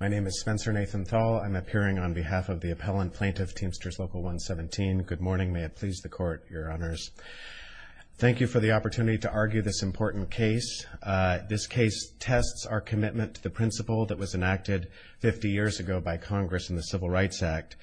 My name is Spencer Nathan Thal. I'm appearing on behalf of the appellant plaintiff, Teamsters Local 117. Good morning. May it please the Court, Your Honors. Thank you for the opportunity to argue this important case. This case tests our commitment to the principle that was enacted 50 years ago by Congress in the Civil Rights Act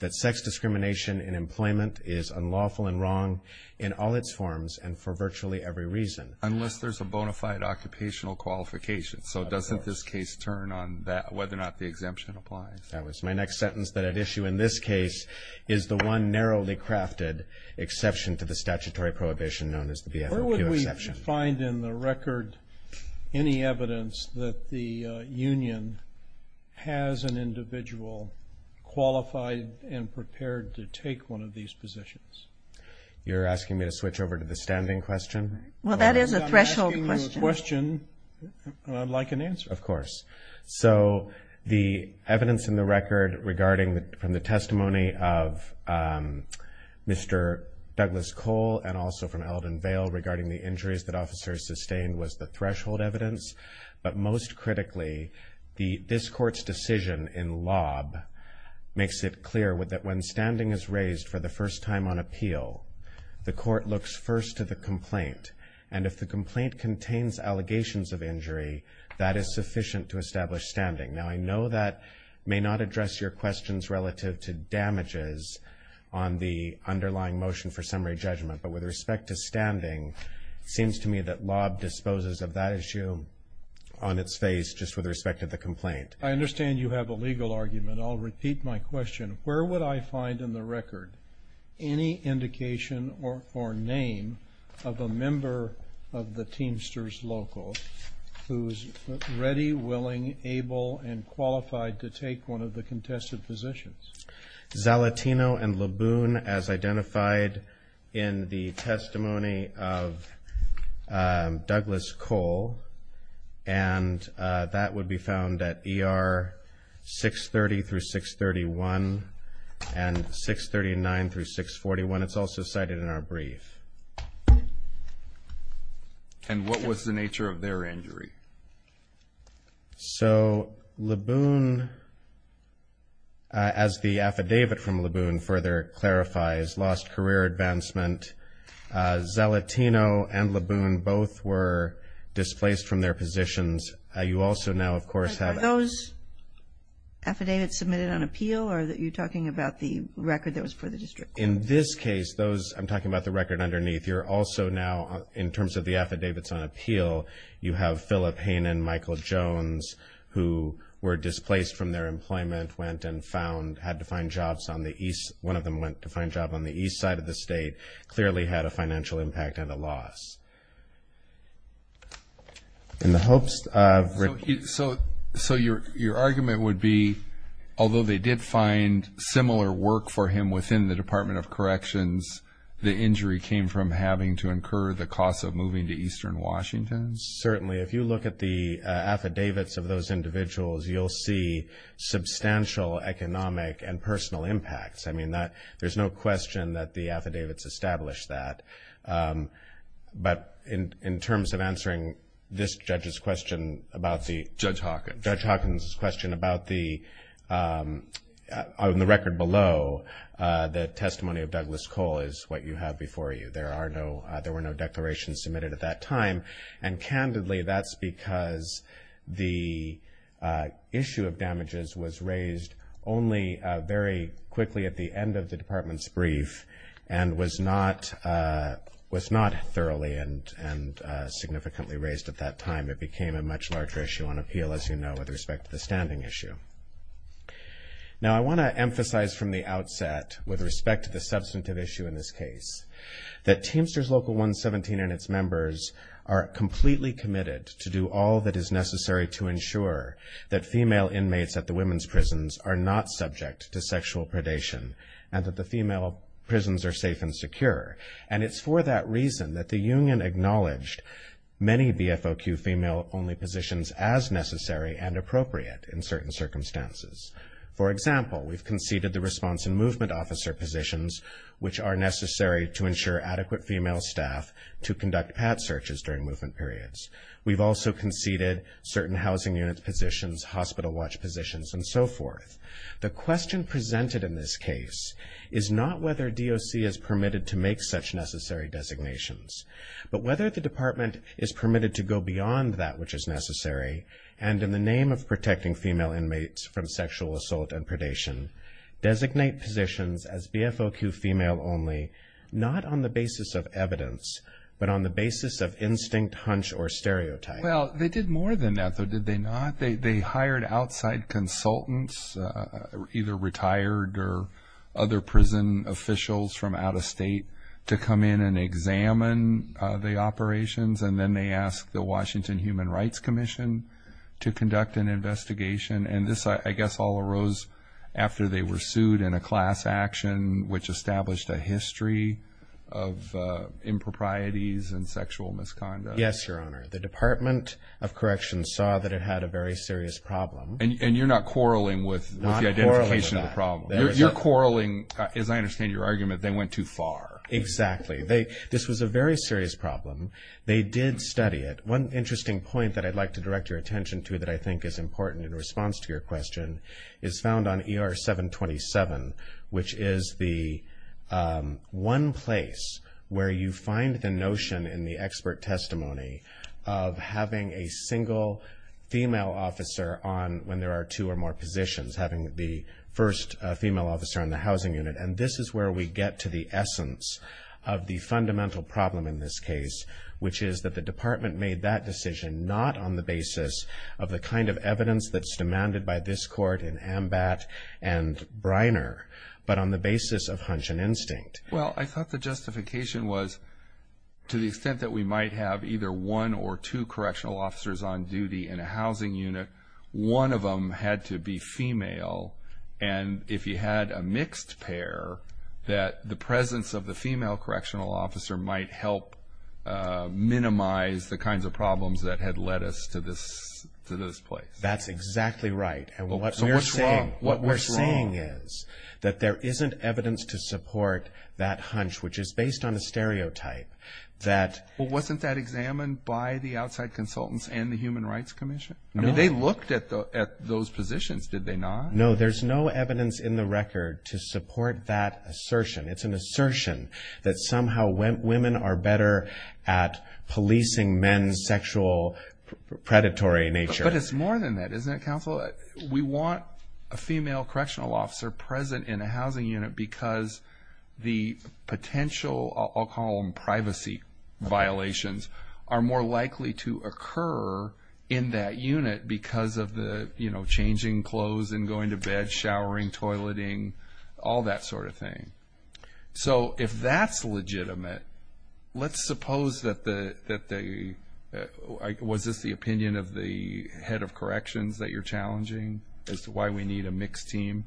that sex discrimination in employment is unlawful and wrong in all its forms and for virtually every reason. Unless there's a bona fide occupational qualification. So doesn't this case turn on whether or not the exemption applies? My next sentence that I'd issue in this case is the one narrowly crafted exception to the statutory prohibition known as the BFOQ exception. Where would we find in the record any evidence that the union has an individual qualified and prepared to take one of these positions? You're asking me to switch over to the standing question? Well, that is a threshold question. I'm not asking you a question. I'd like an answer. Of course. So the evidence in the record regarding from the testimony of Mr. Douglas Cole and also from Eldon Vail regarding the injuries that officers sustained was the threshold evidence. But most critically, this court's decision in Lobb makes it clear that when standing is raised for the first time on appeal, the court looks first to the complaint. And if the complaint contains allegations of injury, that is sufficient to establish standing. Now, I know that may not address your questions relative to damages on the underlying motion for summary judgment. But with respect to standing, it seems to me that Lobb disposes of that issue on its face just with respect to the complaint. I understand you have a legal argument. I'll repeat my question. Where would I find in the record any indication or name of a member of the Teamsters Local who is ready, willing, able, and qualified to take one of the contested positions? Zalatino and Laboon, as identified in the testimony of Douglas Cole. And that would be found at ER 630 through 631 and 639 through 641. It's also cited in our brief. And what was the nature of their injury? So, Laboon, as the affidavit from Laboon further clarifies, lost career advancement. Zalatino and Laboon both were displaced from their positions. You also now, of course, have Are those affidavits submitted on appeal or are you talking about the record that was for the district court? In this case, those, I'm talking about the record underneath. You're also now, in terms of the affidavits on appeal, you have Phillip Hainan, Michael Jones, who were displaced from their employment, went and found, had to find jobs on the east, one of them went to find a job on the east side of the state, clearly had a financial impact and a loss. In the hopes of So your argument would be, although they did find similar work for him within the Department of Corrections, the injury came from having to incur the cost of moving to eastern Washington? Certainly. If you look at the affidavits of those individuals, you'll see substantial economic and personal impacts. I mean, there's no question that the affidavits establish that. But in terms of answering this judge's question about the Judge Hawkins. Judge Hawkins' question about the, on the record below, the testimony of Douglas Cole is what you have before you. There are no, there were no declarations submitted at that time. And candidly, that's because the issue of damages was raised only very quickly at the end of the department's brief and was not thoroughly and significantly raised at that time. It became a much larger issue on appeal, as you know, with respect to the standing issue. Now, I want to emphasize from the outset, with respect to the substantive issue in this case, that Teamsters Local 117 and its members are completely committed to do all that is necessary to ensure that female inmates at the women's prisons are not subject to sexual predation And it's for that reason that the union acknowledged many BFOQ female only positions as necessary and appropriate in certain circumstances. For example, we've conceded the response and movement officer positions, which are necessary to ensure adequate female staff to conduct pat searches during movement periods. We've also conceded certain housing unit positions, hospital watch positions, and so forth. The question presented in this case is not whether DOC is permitted to make such necessary designations, but whether the department is permitted to go beyond that which is necessary and in the name of protecting female inmates from sexual assault and predation, designate positions as BFOQ female only, not on the basis of evidence, but on the basis of instinct, hunch, or stereotype. Well, they did more than that, though, did they not? They hired outside consultants, either retired or other prison officials from out of state, to come in and examine the operations. And then they asked the Washington Human Rights Commission to conduct an investigation. And this, I guess, all arose after they were sued in a class action, which established a history of improprieties and sexual misconduct. Yes, Your Honor. The Department of Corrections saw that it had a very serious problem. And you're not quarreling with the identification of the problem. You're quarreling, as I understand your argument, they went too far. Exactly. This was a very serious problem. They did study it. One interesting point that I'd like to direct your attention to that I think is important in response to your question is found on ER 727, which is the one place where you find the notion in the expert testimony of having a single female officer when there are two or more positions, having the first female officer in the housing unit. And this is where we get to the essence of the fundamental problem in this case, which is that the department made that decision not on the basis of the kind of evidence that's demanded by this court in Ambatt and Briner, but on the basis of hunch and instinct. Well, I thought the justification was to the extent that we might have either one or two correctional officers on duty in a housing unit, one of them had to be female. And if you had a mixed pair, that the presence of the female correctional officer might help minimize the kinds of problems that had led us to this place. That's exactly right. And what we're saying is that there isn't evidence to support that hunch, which is based on a stereotype that... Well, wasn't that examined by the outside consultants and the Human Rights Commission? No. I mean, they looked at those positions, did they not? No, there's no evidence in the record to support that assertion. It's an assertion that somehow women are better at policing men's sexual predatory nature. But it's more than that, isn't it, counsel? We want a female correctional officer present in a housing unit because the potential alcohol and privacy violations are more likely to occur in that unit because of the changing clothes and going to bed, showering, toileting, all that sort of thing. So if that's legitimate, let's suppose that the... Was this the opinion of the head of corrections that you're challenging as to why we need a mixed team?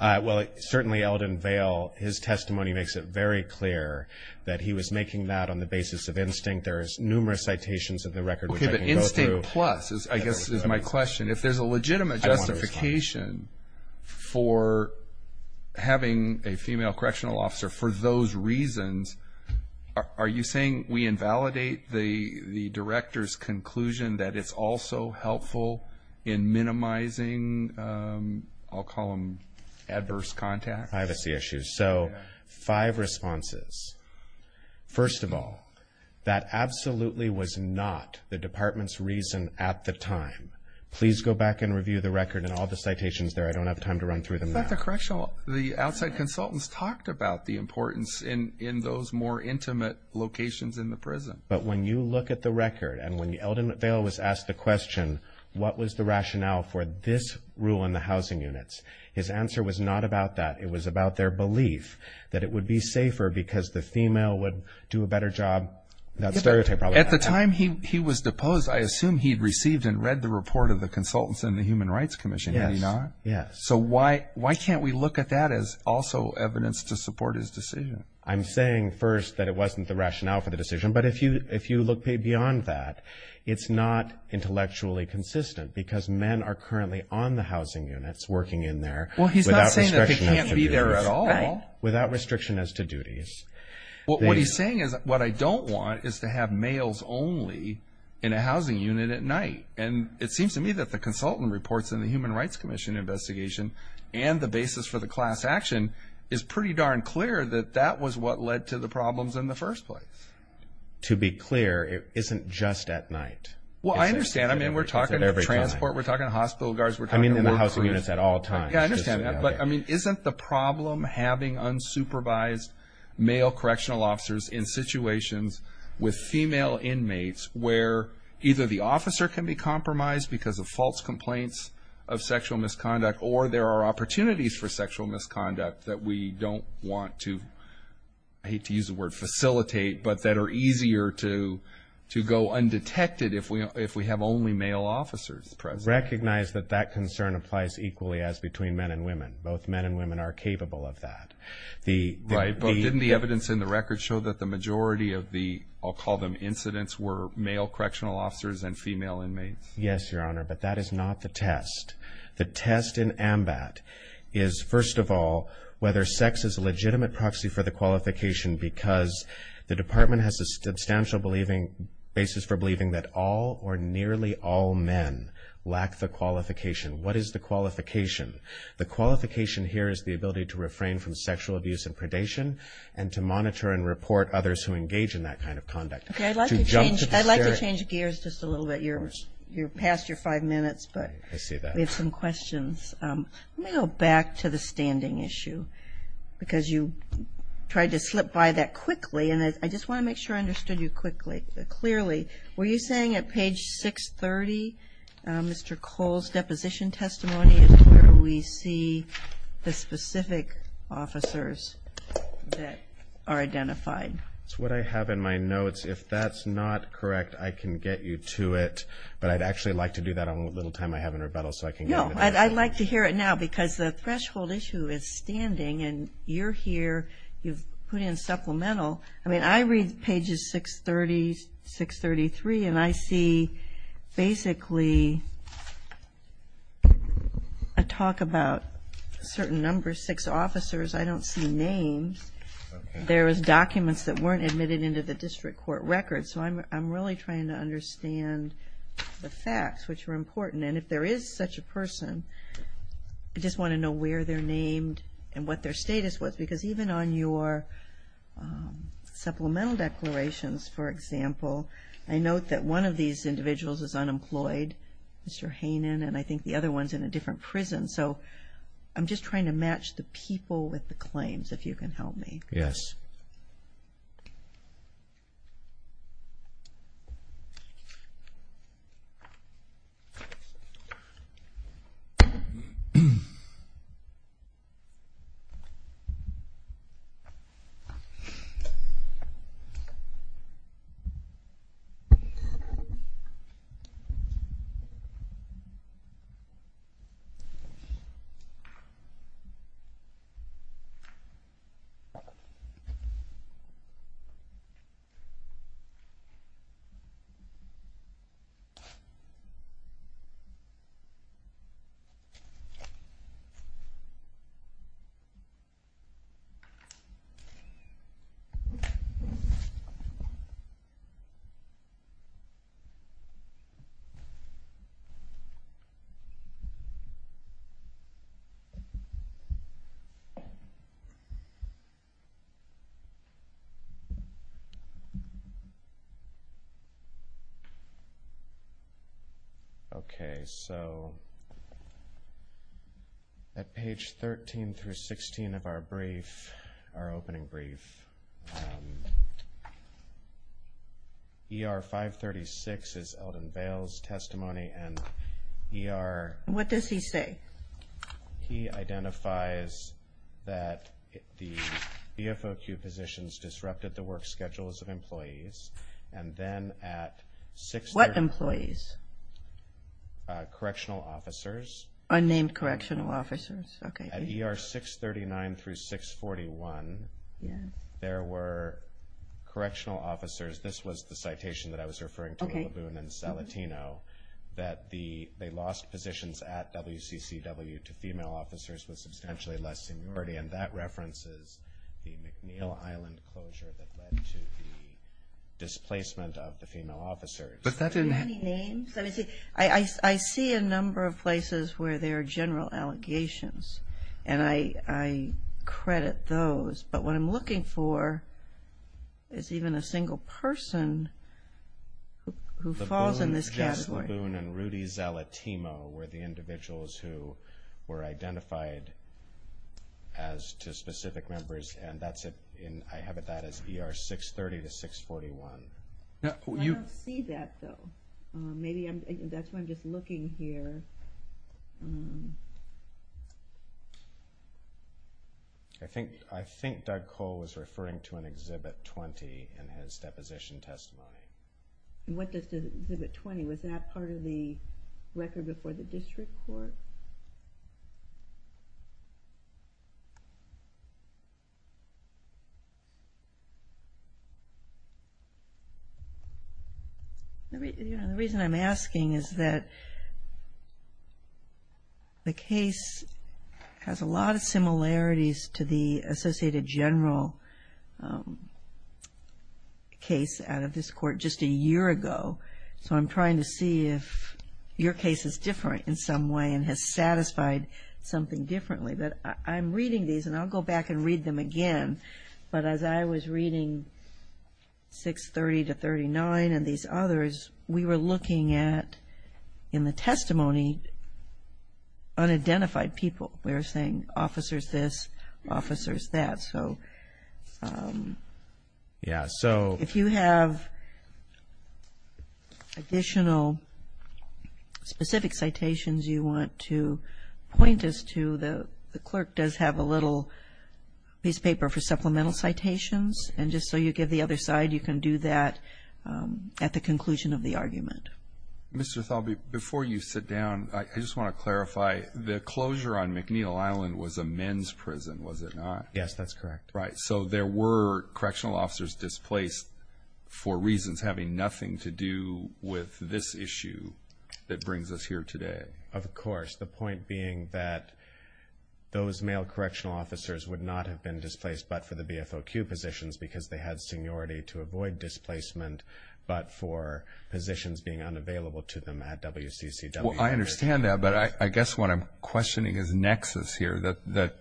Well, certainly Eldon Vail, his testimony makes it very clear that he was making that on the basis of instinct. There's numerous citations of the record which I can go through. Okay, but instinct plus, I guess, is my question. If there's a legitimate justification for having a female correctional officer for those reasons, are you saying we invalidate the director's conclusion that it's also helpful in minimizing, I'll call them adverse contacts? Privacy issues. So five responses. First of all, that absolutely was not the department's reason at the time. Please go back and review the record and all the citations there. I don't have time to run through them now. But the correctional, the outside consultants talked about the importance in those more intimate locations in the prison. But when you look at the record and when Eldon Vail was asked the question, what was the rationale for this rule in the housing units? His answer was not about that. It was about their belief that it would be safer because the female would do a better job. That stereotype probably... At the time he was deposed, I assume he'd received and read the report of the consultants in the Human Rights Commission, had he not? Yes. So why can't we look at that as also evidence to support his decision? I'm saying first that it wasn't the rationale for the decision. But if you look beyond that, it's not intellectually consistent because men are currently on the housing units working in there without restriction as to duties. Well, he's not saying that they can't be there at all. Without restriction as to duties. What he's saying is what I don't want is to have males only in a housing unit at night. And it seems to me that the consultant reports in the Human Rights Commission investigation and the basis for the class action is pretty darn clear that that was what led to the problems in the first place. To be clear, it isn't just at night. Well, I understand. I mean, we're talking transport. We're talking hospital guards. I mean, in the housing units at all times. Yeah, I understand that. But, I mean, isn't the problem having unsupervised male correctional officers in situations with female inmates where either the officer can be compromised because of false complaints of sexual misconduct or there are opportunities for sexual misconduct that we don't want to, I hate to use the word facilitate, but that are easier to go undetected if we have only male officers present? I recognize that that concern applies equally as between men and women. Both men and women are capable of that. Right, but didn't the evidence in the record show that the majority of the, I'll call them incidents, were male correctional officers and female inmates? Yes, Your Honor, but that is not the test. The test in AMBAT is, first of all, whether sex is a legitimate proxy for the qualification because the department has a substantial basis for believing that all or nearly all men lack the qualification. What is the qualification? The qualification here is the ability to refrain from sexual abuse and predation and to monitor and report others who engage in that kind of conduct. Okay, I'd like to change gears just a little bit. I see that. Let me go back to the standing issue because you tried to slip by that quickly, and I just want to make sure I understood you clearly. Were you saying at page 630, Mr. Cole's deposition testimony, is where we see the specific officers that are identified? It's what I have in my notes. If that's not correct, I can get you to it, but I'd actually like to do that on the little time I have in rebuttal so I can get it. No, I'd like to hear it now because the threshold issue is standing, and you're here. You've put in supplemental. I mean, I read pages 630, 633, and I see basically a talk about a certain number, six officers. I don't see names. There was documents that weren't admitted into the district court record, so I'm really trying to understand the facts, which are important. And if there is such a person, I just want to know where they're named and what their status was because even on your supplemental declarations, for example, I note that one of these individuals is unemployed, Mr. Hanen, and I think the other one's in a different prison. So I'm just trying to match the people with the claims, if you can help me. Yes. Thank you. Okay. Okay. So at page 13 through 16 of our brief, our opening brief, ER-536 is Eldon Bales' testimony, and ER- What does he say? He identifies that the BFOQ positions disrupted the work schedules of employees, and then at 630- Unnamed correctional officers. Okay. At ER-639 through 641, there were correctional officers. This was the citation that I was referring to in Laboon and Salatino, that they lost positions at WCCW to female officers with substantially less seniority, and that references the McNeil Island closure that led to the displacement of the female officers. Does that have any names? I see a number of places where there are general allegations, and I credit those, but what I'm looking for is even a single person who falls in this category. Laboon and Rudy Salatino were the individuals who were identified as to specific members, and I have that as ER-630 to 641. I don't see that, though. Maybe that's why I'm just looking here. I think Doug Cole was referring to an Exhibit 20 in his deposition testimony. What does Exhibit 20? Was that part of the record before the district court? The reason I'm asking is that the case has a lot of similarities to the Associated General case out of this court just a year ago, so I'm trying to see if your case is different in some way and has satisfied something differently. I'm reading these, and I'll go back and read them again, but as I was reading 630 to 639 and these others, we were looking at, in the testimony, unidentified people. We were saying officers this, officers that. So if you have additional specific citations you want to point us to, the clerk does have a little piece of paper for supplemental citations, and just so you give the other side, you can do that at the conclusion of the argument. Mr. Thalby, before you sit down, I just want to clarify, the closure on McNeil Island was a men's prison, was it not? Yes, that's correct. Right, so there were correctional officers displaced for reasons having nothing to do with this issue that brings us here today. Of course, the point being that those male correctional officers would not have been displaced but for the BFOQ positions because they had seniority to avoid displacement, but for positions being unavailable to them at WCCW. I understand that, but I guess what I'm questioning is nexus here, that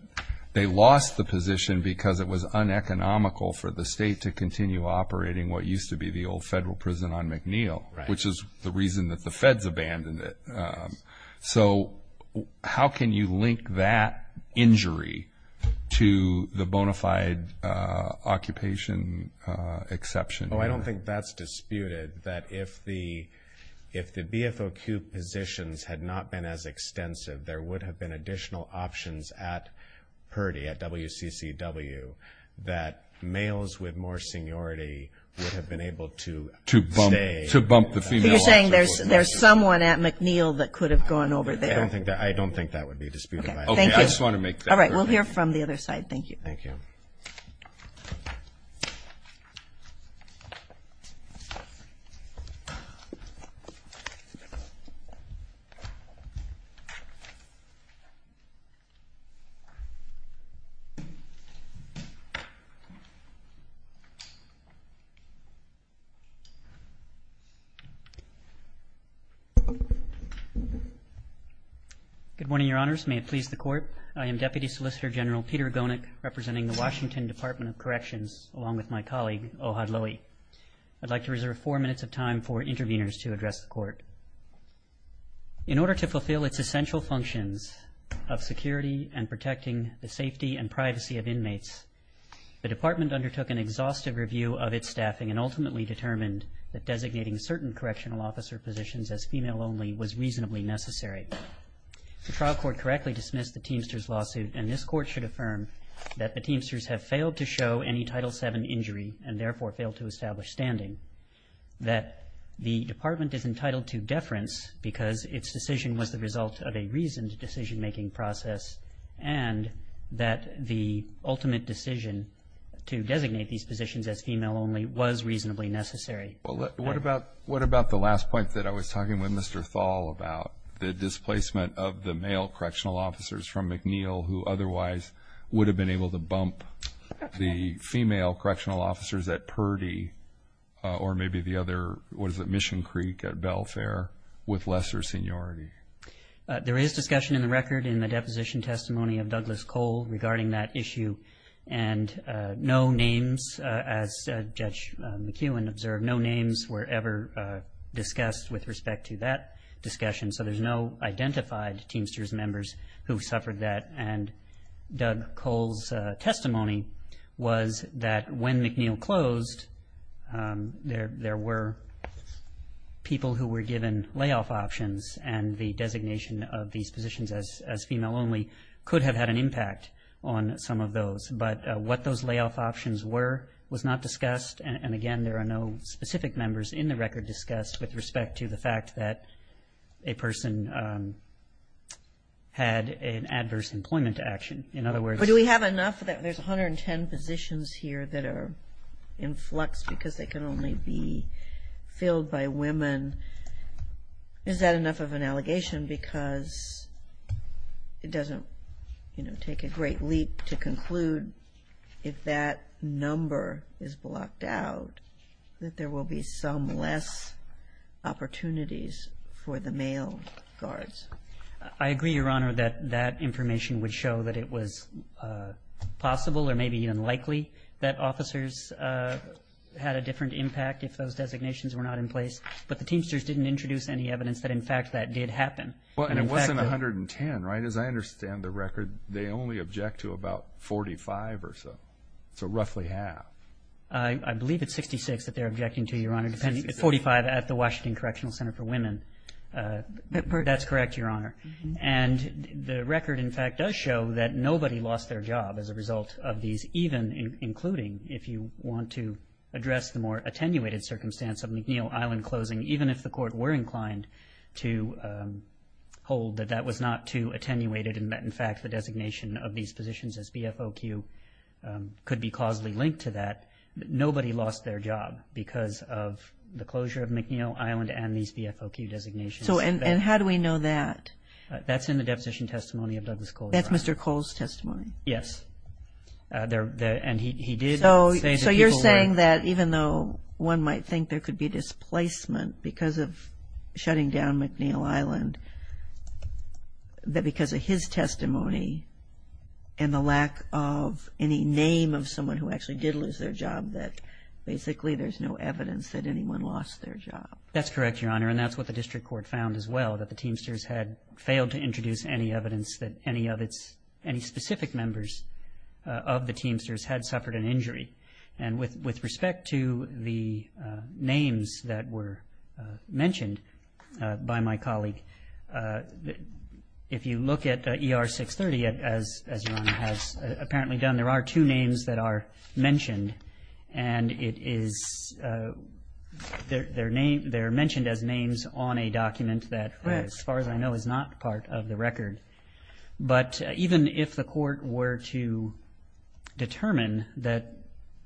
they lost the position because it was uneconomical for the state to continue operating what used to be the old federal prison on McNeil, which is the reason that the feds abandoned it. So how can you link that injury to the bona fide occupation exception? Well, I don't think that's disputed, that if the BFOQ positions had not been as extensive, there would have been additional options at PERDI at WCCW that males with more seniority would have been able to stay. So you're saying there's someone at McNeil that could have gone over there? I don't think that would be disputed. Okay. Thank you. All right. We'll hear from the other side. Thank you. Thank you. Good morning, Your Honors. May it please the Court. I am Deputy Solicitor General Peter Gonick, representing the Washington Department of Corrections, along with my colleague, Ohad Lowy. I'd like to reserve four minutes of time for interveners to address the Court. In order to fulfill its essential functions of security and protecting the safety and privacy of inmates, the Department undertook an exhaustive review of its staffing and ultimately determined that designating staff in certain correctional officer positions as female only was reasonably necessary. The trial court correctly dismissed the Teamsters lawsuit, and this Court should affirm that the Teamsters have failed to show any Title VII injury and therefore failed to establish standing, that the Department is entitled to deference because its decision was the result of a reasoned decision-making process, and that the ultimate decision to designate these positions as female only was reasonably necessary. Well, what about the last point that I was talking with Mr. Thal about, the displacement of the male correctional officers from McNeill who otherwise would have been able to bump the female correctional officers at Purdy or maybe the other, what is it, Mission Creek at Belfair with lesser seniority? There is discussion in the record in the deposition testimony of Douglas Cole regarding that issue, and no names, as Judge McKeown observed, no names were ever discussed with respect to that discussion, so there's no identified Teamsters members who suffered that, and Doug Cole's testimony was that when McNeill closed, there were people who were given layoff options, and the designation of these positions as female only could have had an impact on some of those, but what those layoff options were was not discussed, and again there are no specific members in the record discussed with respect to the fact that a person had an adverse employment action. In other words – But do we have enough? There's 110 positions here that are in flux because they can only be filled by women. Is that enough of an allegation because it doesn't, you know, take a great leap to conclude if that number is blocked out that there will be some less opportunities for the male guards? I agree, Your Honor, that that information would show that it was possible or maybe even likely that officers had a different impact if those designations were not in place, but the Teamsters didn't introduce any evidence that in fact that did happen. Well, and it wasn't 110, right? As I understand the record, they only object to about 45 or so, so roughly half. I believe it's 66 that they're objecting to, Your Honor, 45 at the Washington Correctional Center for Women. That's correct, Your Honor, and the record in fact does show that nobody lost their job as a result of these, even including if you want to address the more attenuated circumstance of McNeil Island closing, even if the court were inclined to hold that that was not too attenuated and that, in fact, the designation of these positions as BFOQ could be causally linked to that, nobody lost their job because of the closure of McNeil Island and these BFOQ designations. And how do we know that? That's in the deposition testimony of Douglas Cole, Your Honor. That's Mr. Cole's testimony? Yes, and he did say that people were. He was saying that even though one might think there could be displacement because of shutting down McNeil Island, that because of his testimony and the lack of any name of someone who actually did lose their job that basically there's no evidence that anyone lost their job. That's correct, Your Honor, and that's what the district court found as well, that the Teamsters had failed to introduce any evidence that any of its, any specific members of the Teamsters had suffered an injury. And with respect to the names that were mentioned by my colleague, if you look at ER 630, as Your Honor has apparently done, there are two names that are mentioned, and they're mentioned as names on a document that, as far as I know, is not part of the record. But even if the court were to determine that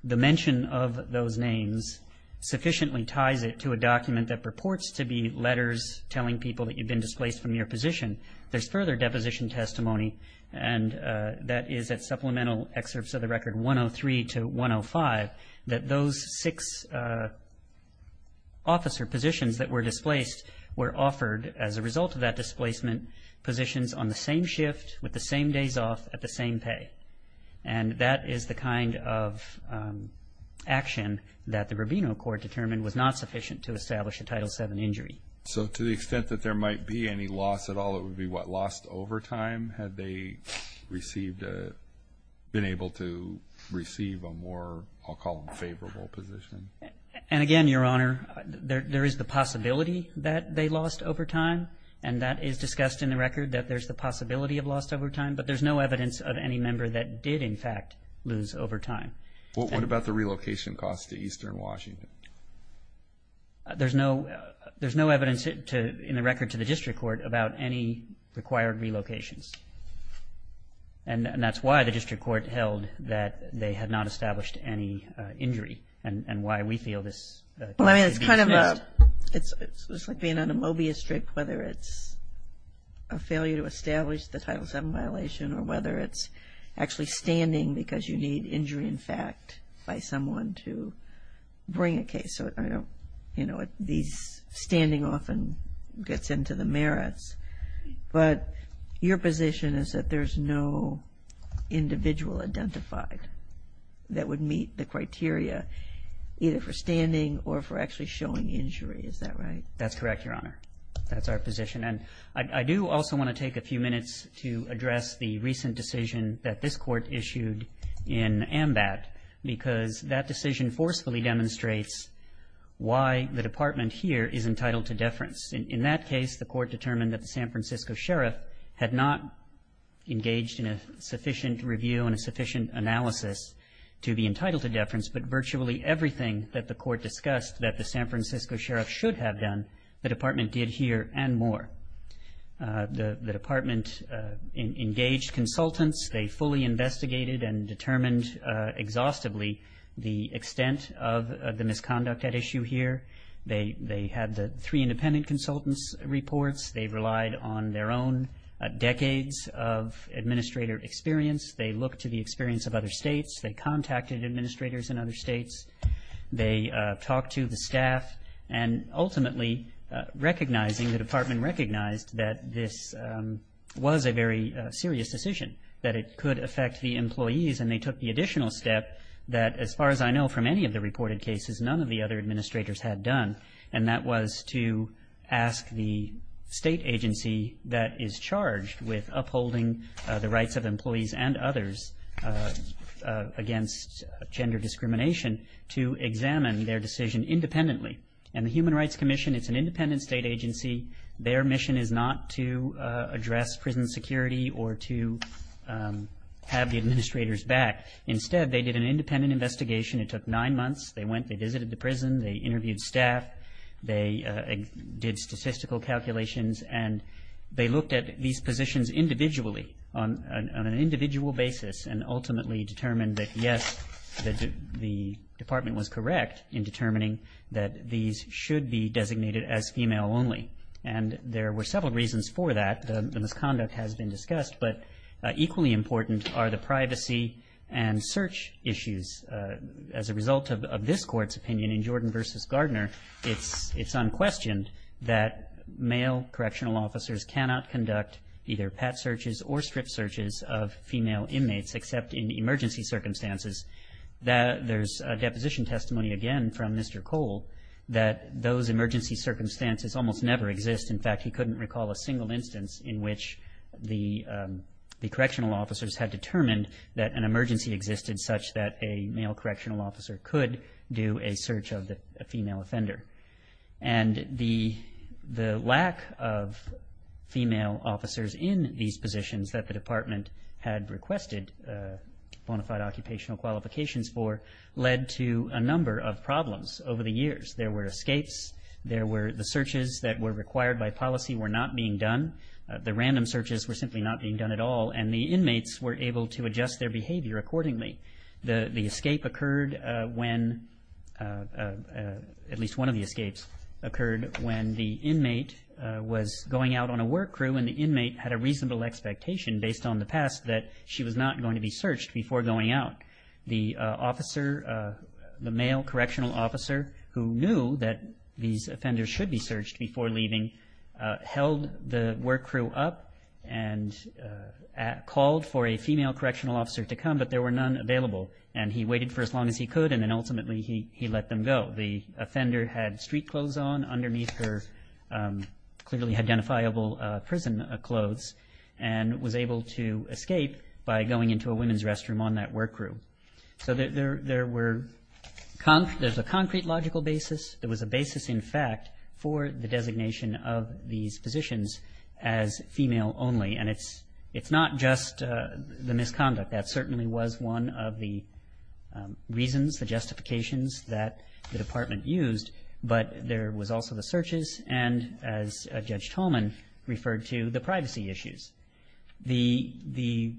the mention of those names sufficiently ties it to a document that purports to be letters telling people that you've been displaced from your position, there's further deposition testimony, and that is at supplemental excerpts of the record 103 to 105, that those six officer positions that were displaced were offered as a result of that displacement positions on the same shift, with the same days off, at the same pay. And that is the kind of action that the Rubino court determined was not sufficient to establish a Title VII injury. So to the extent that there might be any loss at all, it would be what, lost over time had they received, been able to receive a more, I'll call them favorable position? And again, Your Honor, there is the possibility that they lost over time, and that is discussed in the record, that there's the possibility of loss over time, but there's no evidence of any member that did, in fact, lose over time. What about the relocation costs to eastern Washington? There's no evidence in the record to the district court about any required relocations. And that's why the district court held that they had not established any injury and why we feel this case is being dismissed. Well, I mean, it's kind of a, it's like being on a Mobius strip, whether it's a failure to establish the Title VII violation or whether it's actually standing because you need injury, in fact, by someone to bring a case. So, you know, these, standing often gets into the merits. But your position is that there's no individual identified that would meet the criteria, either for standing or for actually showing injury. Is that right? That's correct, Your Honor. That's our position. And I do also want to take a few minutes to address the recent decision that this court issued in AMBAT, because that decision forcefully demonstrates why the department here is entitled to deference. In that case, the court determined that the San Francisco sheriff had not engaged in a sufficient review and a sufficient analysis to be entitled to deference, but virtually everything that the court discussed that the San Francisco sheriff should have done, the department did here and more. The department engaged consultants. They fully investigated and determined exhaustively the extent of the misconduct at issue here. They had the three independent consultants' reports. They relied on their own decades of administrator experience. They looked to the experience of other states. They contacted administrators in other states. They talked to the staff and, ultimately, recognizing, the department recognized that this was a very serious decision, that it could affect the employees, and they took the additional step that, as far as I know from any of the reported cases, none of the other administrators had done, and that was to ask the state agency that is charged with upholding the rights of against gender discrimination to examine their decision independently. And the Human Rights Commission, it's an independent state agency. Their mission is not to address prison security or to have the administrators back. Instead, they did an independent investigation. It took nine months. They went. They visited the prison. They interviewed staff. They did statistical calculations, and they looked at these positions individually on an individual basis and ultimately determined that, yes, the department was correct in determining that these should be designated as female only. And there were several reasons for that. The misconduct has been discussed, but equally important are the privacy and search issues. As a result of this Court's opinion in Jordan v. Gardner, it's unquestioned that male correctional officers cannot conduct either pet searches or strip searches of female inmates except in emergency circumstances. There's a deposition testimony again from Mr. Cole that those emergency circumstances almost never exist. In fact, he couldn't recall a single instance in which the correctional officers had determined that an emergency existed such that a male correctional officer could do a search of a female offender. And the lack of female officers in these positions that the department had requested bona fide occupational qualifications for led to a number of problems over the years. There were escapes. There were the searches that were required by policy were not being done. The random searches were simply not being done at all, and the inmates were able to adjust their behavior accordingly. The escape occurred when, at least one of the escapes, occurred when the inmate was going out on a work crew, and the inmate had a reasonable expectation, based on the past, that she was not going to be searched before going out. The officer, the male correctional officer who knew that these offenders should be searched before leaving, held the work crew up and called for a female correctional officer to come, but there were none available. And he waited for as long as he could, and then ultimately he let them go. The offender had street clothes on underneath her clearly identifiable prison clothes and was able to escape by going into a women's restroom on that work crew. So there's a concrete logical basis. There was a basis, in fact, for the designation of these positions as female only. And it's not just the misconduct. That certainly was one of the reasons, the justifications that the department used, but there was also the searches and, as Judge Tolman referred to, the privacy issues. The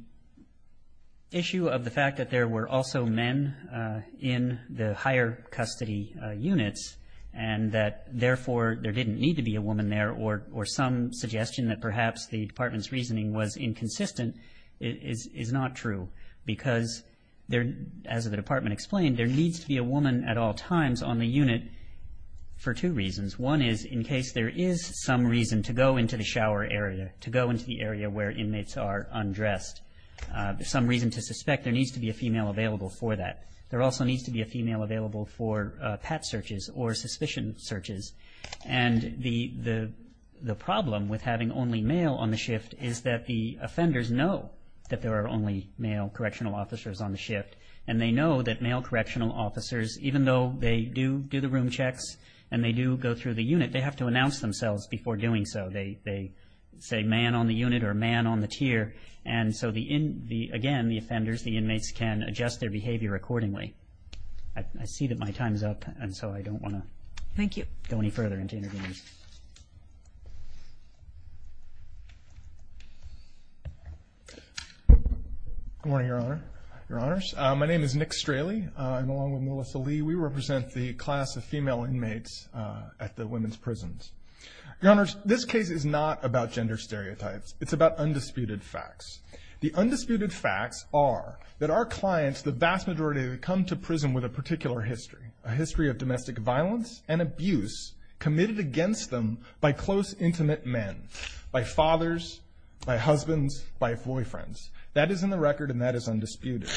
issue of the fact that there were also men in the higher custody units and that, therefore, there didn't need to be a woman there or some suggestion that perhaps the department's reasoning was inconsistent is not true because, as the department explained, there needs to be a woman at all times on the unit for two reasons. One is in case there is some reason to go into the shower area, to go into the area where inmates are undressed, some reason to suspect there needs to be a female available for that. There also needs to be a female available for pat searches or suspicion searches. And the problem with having only male on the shift is that the offenders know that there are only male correctional officers on the shift, and they know that male correctional officers, even though they do do the room checks and they do go through the unit, they have to announce themselves before doing so. They say, man on the unit or man on the tier. And so, again, the offenders, the inmates, can adjust their behavior accordingly. I see that my time is up, and so I don't want to go any further into interviews. Good morning, Your Honor. Your Honors, my name is Nick Straley. I'm along with Melissa Lee. We represent the class of female inmates at the women's prisons. Your Honors, this case is not about gender stereotypes. It's about undisputed facts. The undisputed facts are that our clients, the vast majority, come to prison with a particular history, a history of domestic violence and abuse committed against them by close, intimate men, by fathers, by husbands, by boyfriends. That is in the record, and that is undisputed.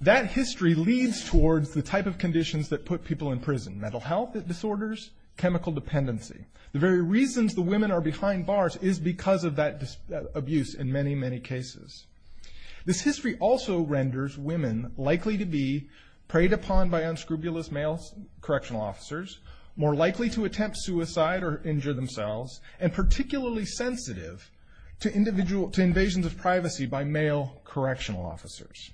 That history leads towards the type of conditions that put people in prison, mental health disorders, chemical dependency. The very reasons the women are behind bars is because of that abuse in many, many cases. This history also renders women likely to be preyed upon by unscrupulous male correctional officers, more likely to attempt suicide or injure themselves, and particularly sensitive to invasion of privacy by male correctional officers.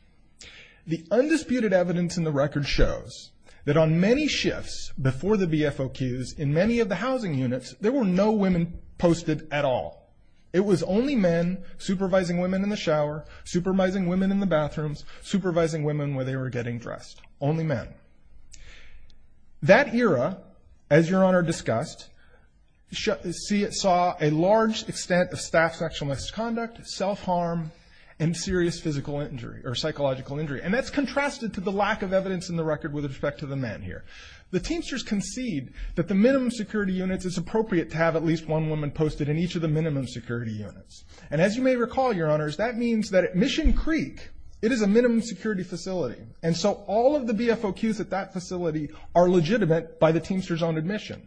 The undisputed evidence in the record shows that on many shifts before the BFOQs, in many of the housing units, there were no women posted at all. It was only men supervising women in the shower, supervising women in the bathrooms, supervising women when they were getting dressed. Only men. That era, as Your Honor discussed, saw a large extent of staff sexual misconduct, self-harm, and serious physical injury or psychological injury, and that's contrasted to the lack of evidence in the record with respect to the men here. The Teamsters concede that the minimum security units, it's appropriate to have at least one woman posted in each of the minimum security units. And as you may recall, Your Honors, that means that at Mission Creek, it is a minimum security facility, and so all of the BFOQs at that facility are legitimate by the Teamsters on admission,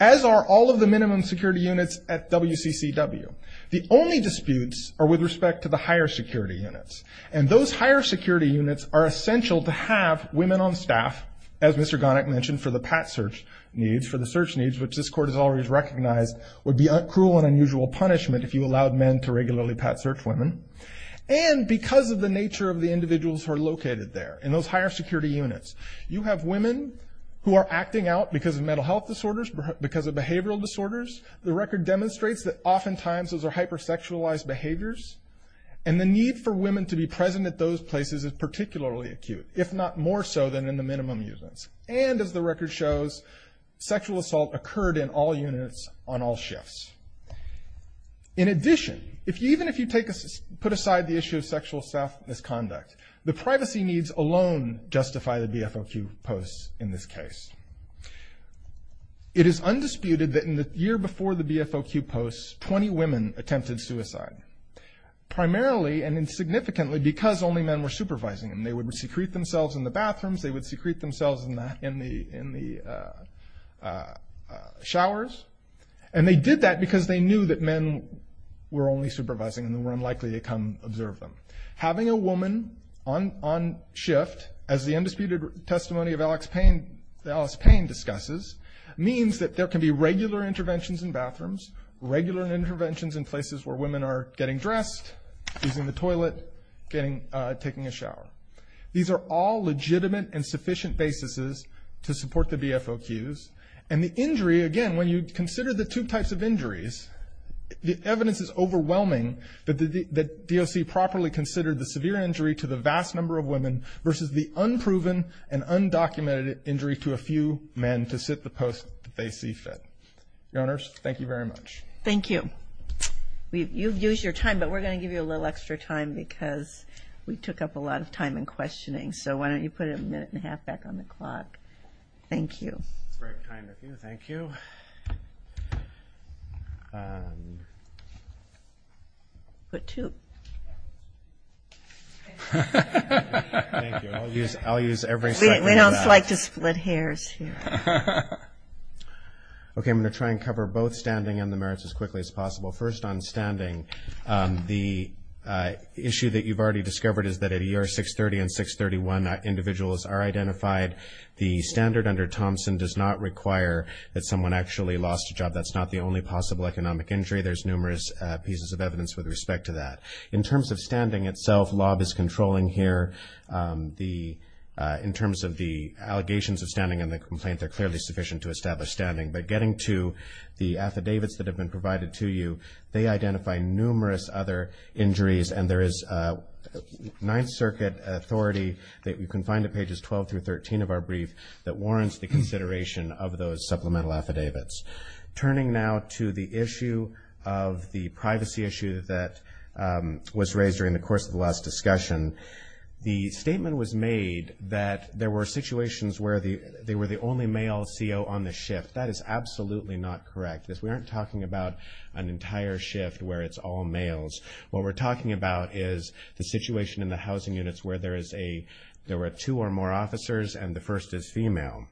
as are all of the minimum security units at WCCW. The only disputes are with respect to the higher security units, and those higher security units are essential to have women on staff, as Mr. Gonnick mentioned, for the pat search needs, for the search needs, which this Court has always recognized would be a cruel and unusual punishment if you allowed men to regularly pat search women, and because of the nature of the individuals who are located there in those higher security units. You have women who are acting out because of mental health disorders, because of behavioral disorders. The record demonstrates that oftentimes those are hyper-sexualized behaviors, and the need for women to be present at those places is particularly acute, if not more so than in the minimum units. And as the record shows, sexual assault occurred in all units on all shifts. In addition, even if you put aside the issue of sexual misconduct, the privacy needs alone justify the BFOQ posts in this case. It is undisputed that in the year before the BFOQ posts, 20 women attempted suicide. Primarily and significantly because only men were supervising them. They would secrete themselves in the bathrooms, they would secrete themselves in the showers, and they did that because they knew that men were only supervising and were unlikely to come observe them. Having a woman on shift, as the undisputed testimony of Alex Payne discusses, means that there can be regular interventions in bathrooms, regular interventions in places where women are getting dressed, using the toilet, taking a shower. These are all legitimate and sufficient basis to support the BFOQs. And the injury, again, when you consider the two types of injuries, the evidence is overwhelming that DOC properly considered the severe injury to the vast number of women versus the unproven and undocumented injury to a few men to sit the post that they see fit. Your Honors, thank you very much. Thank you. You've used your time, but we're going to give you a little extra time because we took up a lot of time in questioning, so why don't you put a minute and a half back on the clock. Thank you. That's the right time to do, thank you. Put two. Thank you, I'll use every second of that. We don't like to split hairs here. Okay, I'm going to try and cover both standing and the merits as quickly as possible. First on standing, the issue that you've already discovered is that at ER 630 and 631, individuals are identified. The standard under Thompson does not require that someone actually lost a job. That's not the only possible economic injury. There's numerous pieces of evidence with respect to that. In terms of standing itself, lob is controlling here. In terms of the allegations of standing and the complaint, they're clearly sufficient to establish standing. But getting to the affidavits that have been provided to you, they identify numerous other injuries, and there is Ninth Circuit authority that you can find at pages 12 through 13 of our brief that warrants the consideration of those supplemental affidavits. Turning now to the issue of the privacy issue that was raised during the course of the last discussion, the statement was made that there were situations where they were the only male CO on the shift. That is absolutely not correct. We aren't talking about an entire shift where it's all males. What we're talking about is the situation in the housing units where there were two or more officers and the first is female.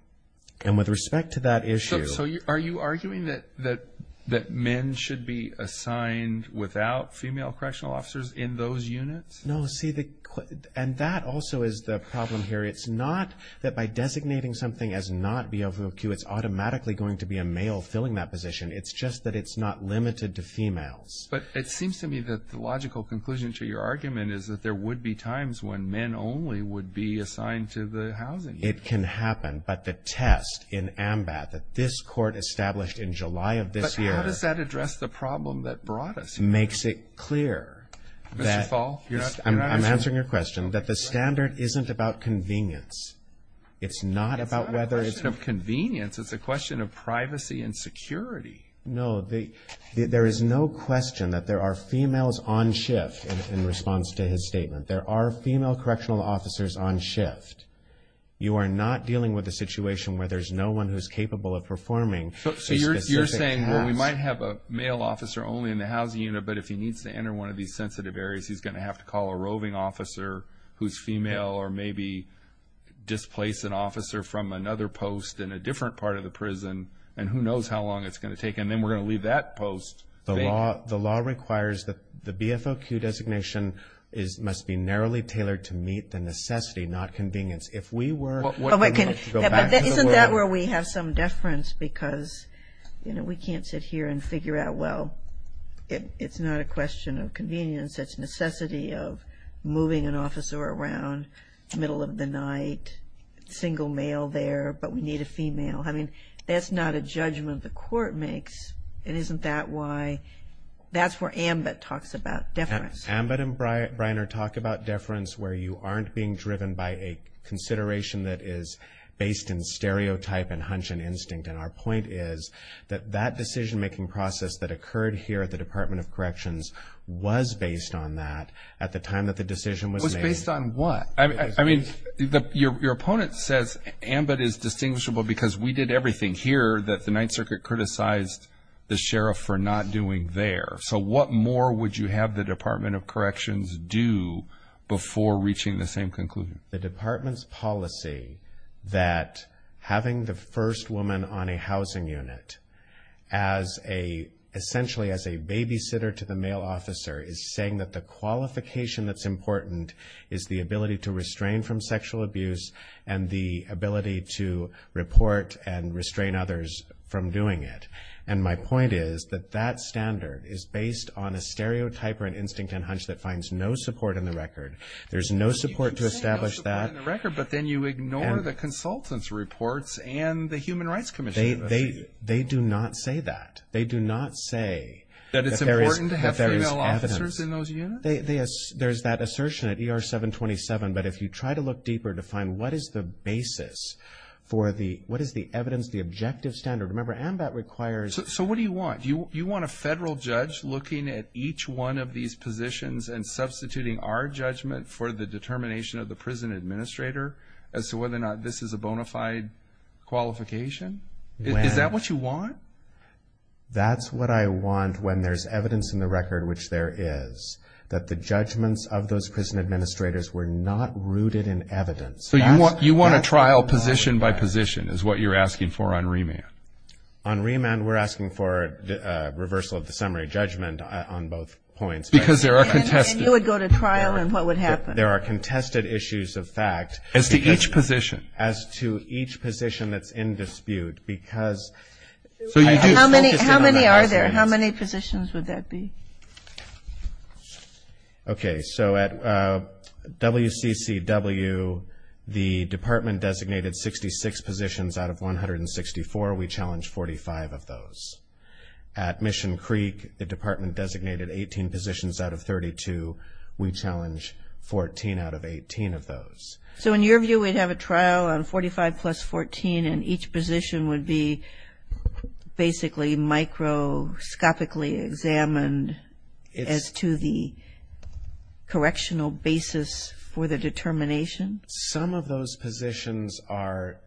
And with respect to that issue – So are you arguing that men should be assigned without female correctional officers in those units? No. See, and that also is the problem here. It's not that by designating something as not BOQ, it's automatically going to be a male filling that position. It's just that it's not limited to females. But it seems to me that the logical conclusion to your argument is that there would be times when men only would be assigned to the housing unit. It can happen. But the test in AMBAT that this Court established in July of this year – But how does that address the problem that brought us here? It makes it clear that – Mr. Fall? I'm answering your question. That the standard isn't about convenience. It's not about whether it's – It's not a question of convenience. It's a question of privacy and security. No. There is no question that there are females on shift in response to his statement. There are female correctional officers on shift. You are not dealing with a situation where there's no one who's capable of performing a specific task. Well, we might have a male officer only in the housing unit, but if he needs to enter one of these sensitive areas, he's going to have to call a roving officer who's female or maybe displace an officer from another post in a different part of the prison, and who knows how long it's going to take. And then we're going to leave that post vacant. The law requires that the BFOQ designation must be narrowly tailored to meet the necessity, not convenience. If we were – Isn't that where we have some deference? Because, you know, we can't sit here and figure out, well, it's not a question of convenience. That's necessity of moving an officer around, middle of the night, single male there, but we need a female. I mean, that's not a judgment the court makes, and isn't that why – that's where AMBIT talks about deference. AMBIT and Bryner talk about deference where you aren't being driven by a consideration that is based in stereotype and hunch and instinct. And our point is that that decision-making process that occurred here at the Department of Corrections was based on that at the time that the decision was made. It was based on what? I mean, your opponent says AMBIT is distinguishable because we did everything here that the Ninth Circuit criticized the sheriff for not doing there. So what more would you have the Department of Corrections do before reaching the same conclusion? The Department's policy that having the first woman on a housing unit essentially as a babysitter to the male officer is saying that the qualification that's important is the ability to restrain from sexual abuse and the ability to report and restrain others from doing it. And my point is that that standard is based on a stereotype or an instinct and hunch that finds no support in the record. There's no support to establish that. You can say no support in the record, but then you ignore the consultant's reports and the Human Rights Commission. They do not say that. They do not say that there is evidence. That it's important to have female officers in those units? There's that assertion at ER 727, but if you try to look deeper to find what is the basis for the what is the evidence, the objective standard. Remember, AMBIT requires. So what do you want? Do you want a federal judge looking at each one of these positions and substituting our judgment for the determination of the prison administrator as to whether or not this is a bona fide qualification? Is that what you want? That's what I want when there's evidence in the record, which there is, that the judgments of those prison administrators were not rooted in evidence. So you want a trial position by position is what you're asking for on remand? On remand, we're asking for reversal of the summary judgment on both points. Because there are contested. And you would go to trial, and what would happen? There are contested issues of fact. As to each position? As to each position that's in dispute, because. How many are there? How many positions would that be? Okay. So at WCCW, the department designated 66 positions out of 164. We challenged 45 of those. At Mission Creek, the department designated 18 positions out of 32. We challenged 14 out of 18 of those. So in your view, we'd have a trial on 45 plus 14, and each position would be basically microscopically examined as to the correctional basis for the determination? Some of those positions are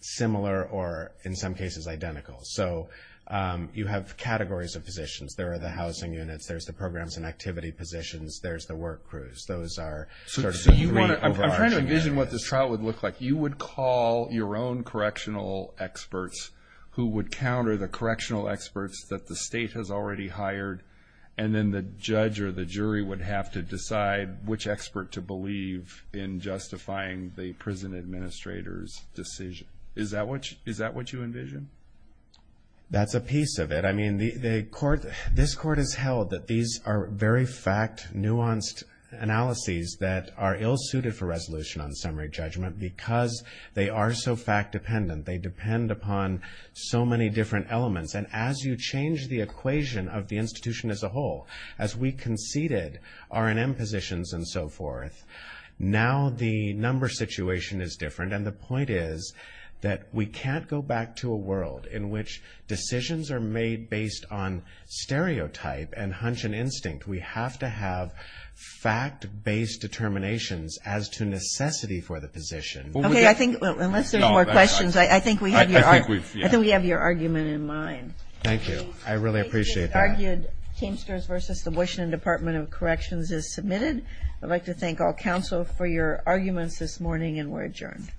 similar or, in some cases, identical. So you have categories of positions. There are the housing units. There's the programs and activity positions. There's the work crews. Those are sort of the three overarching categories. I'm trying to envision what this trial would look like. You would call your own correctional experts who would counter the correctional experts that the state has already hired, and then the judge or the jury would have to decide which expert to believe in justifying the prison administrator's decision. Is that what you envision? That's a piece of it. I mean, this court has held that these are very fact, nuanced analyses that are well suited for resolution on summary judgment because they are so fact dependent, they depend upon so many different elements. And as you change the equation of the institution as a whole, as we conceded R&M positions and so forth, now the number situation is different. And the point is that we can't go back to a world in which decisions are made based on stereotype and hunch and instinct. We have to have fact-based determinations as to necessity for the position. Okay, I think unless there's more questions, I think we have your argument in mind. Thank you. I really appreciate that. Thank you. The argued Teamsters v. the Washington Department of Corrections is submitted. I'd like to thank all counsel for your arguments this morning, and we're adjourned.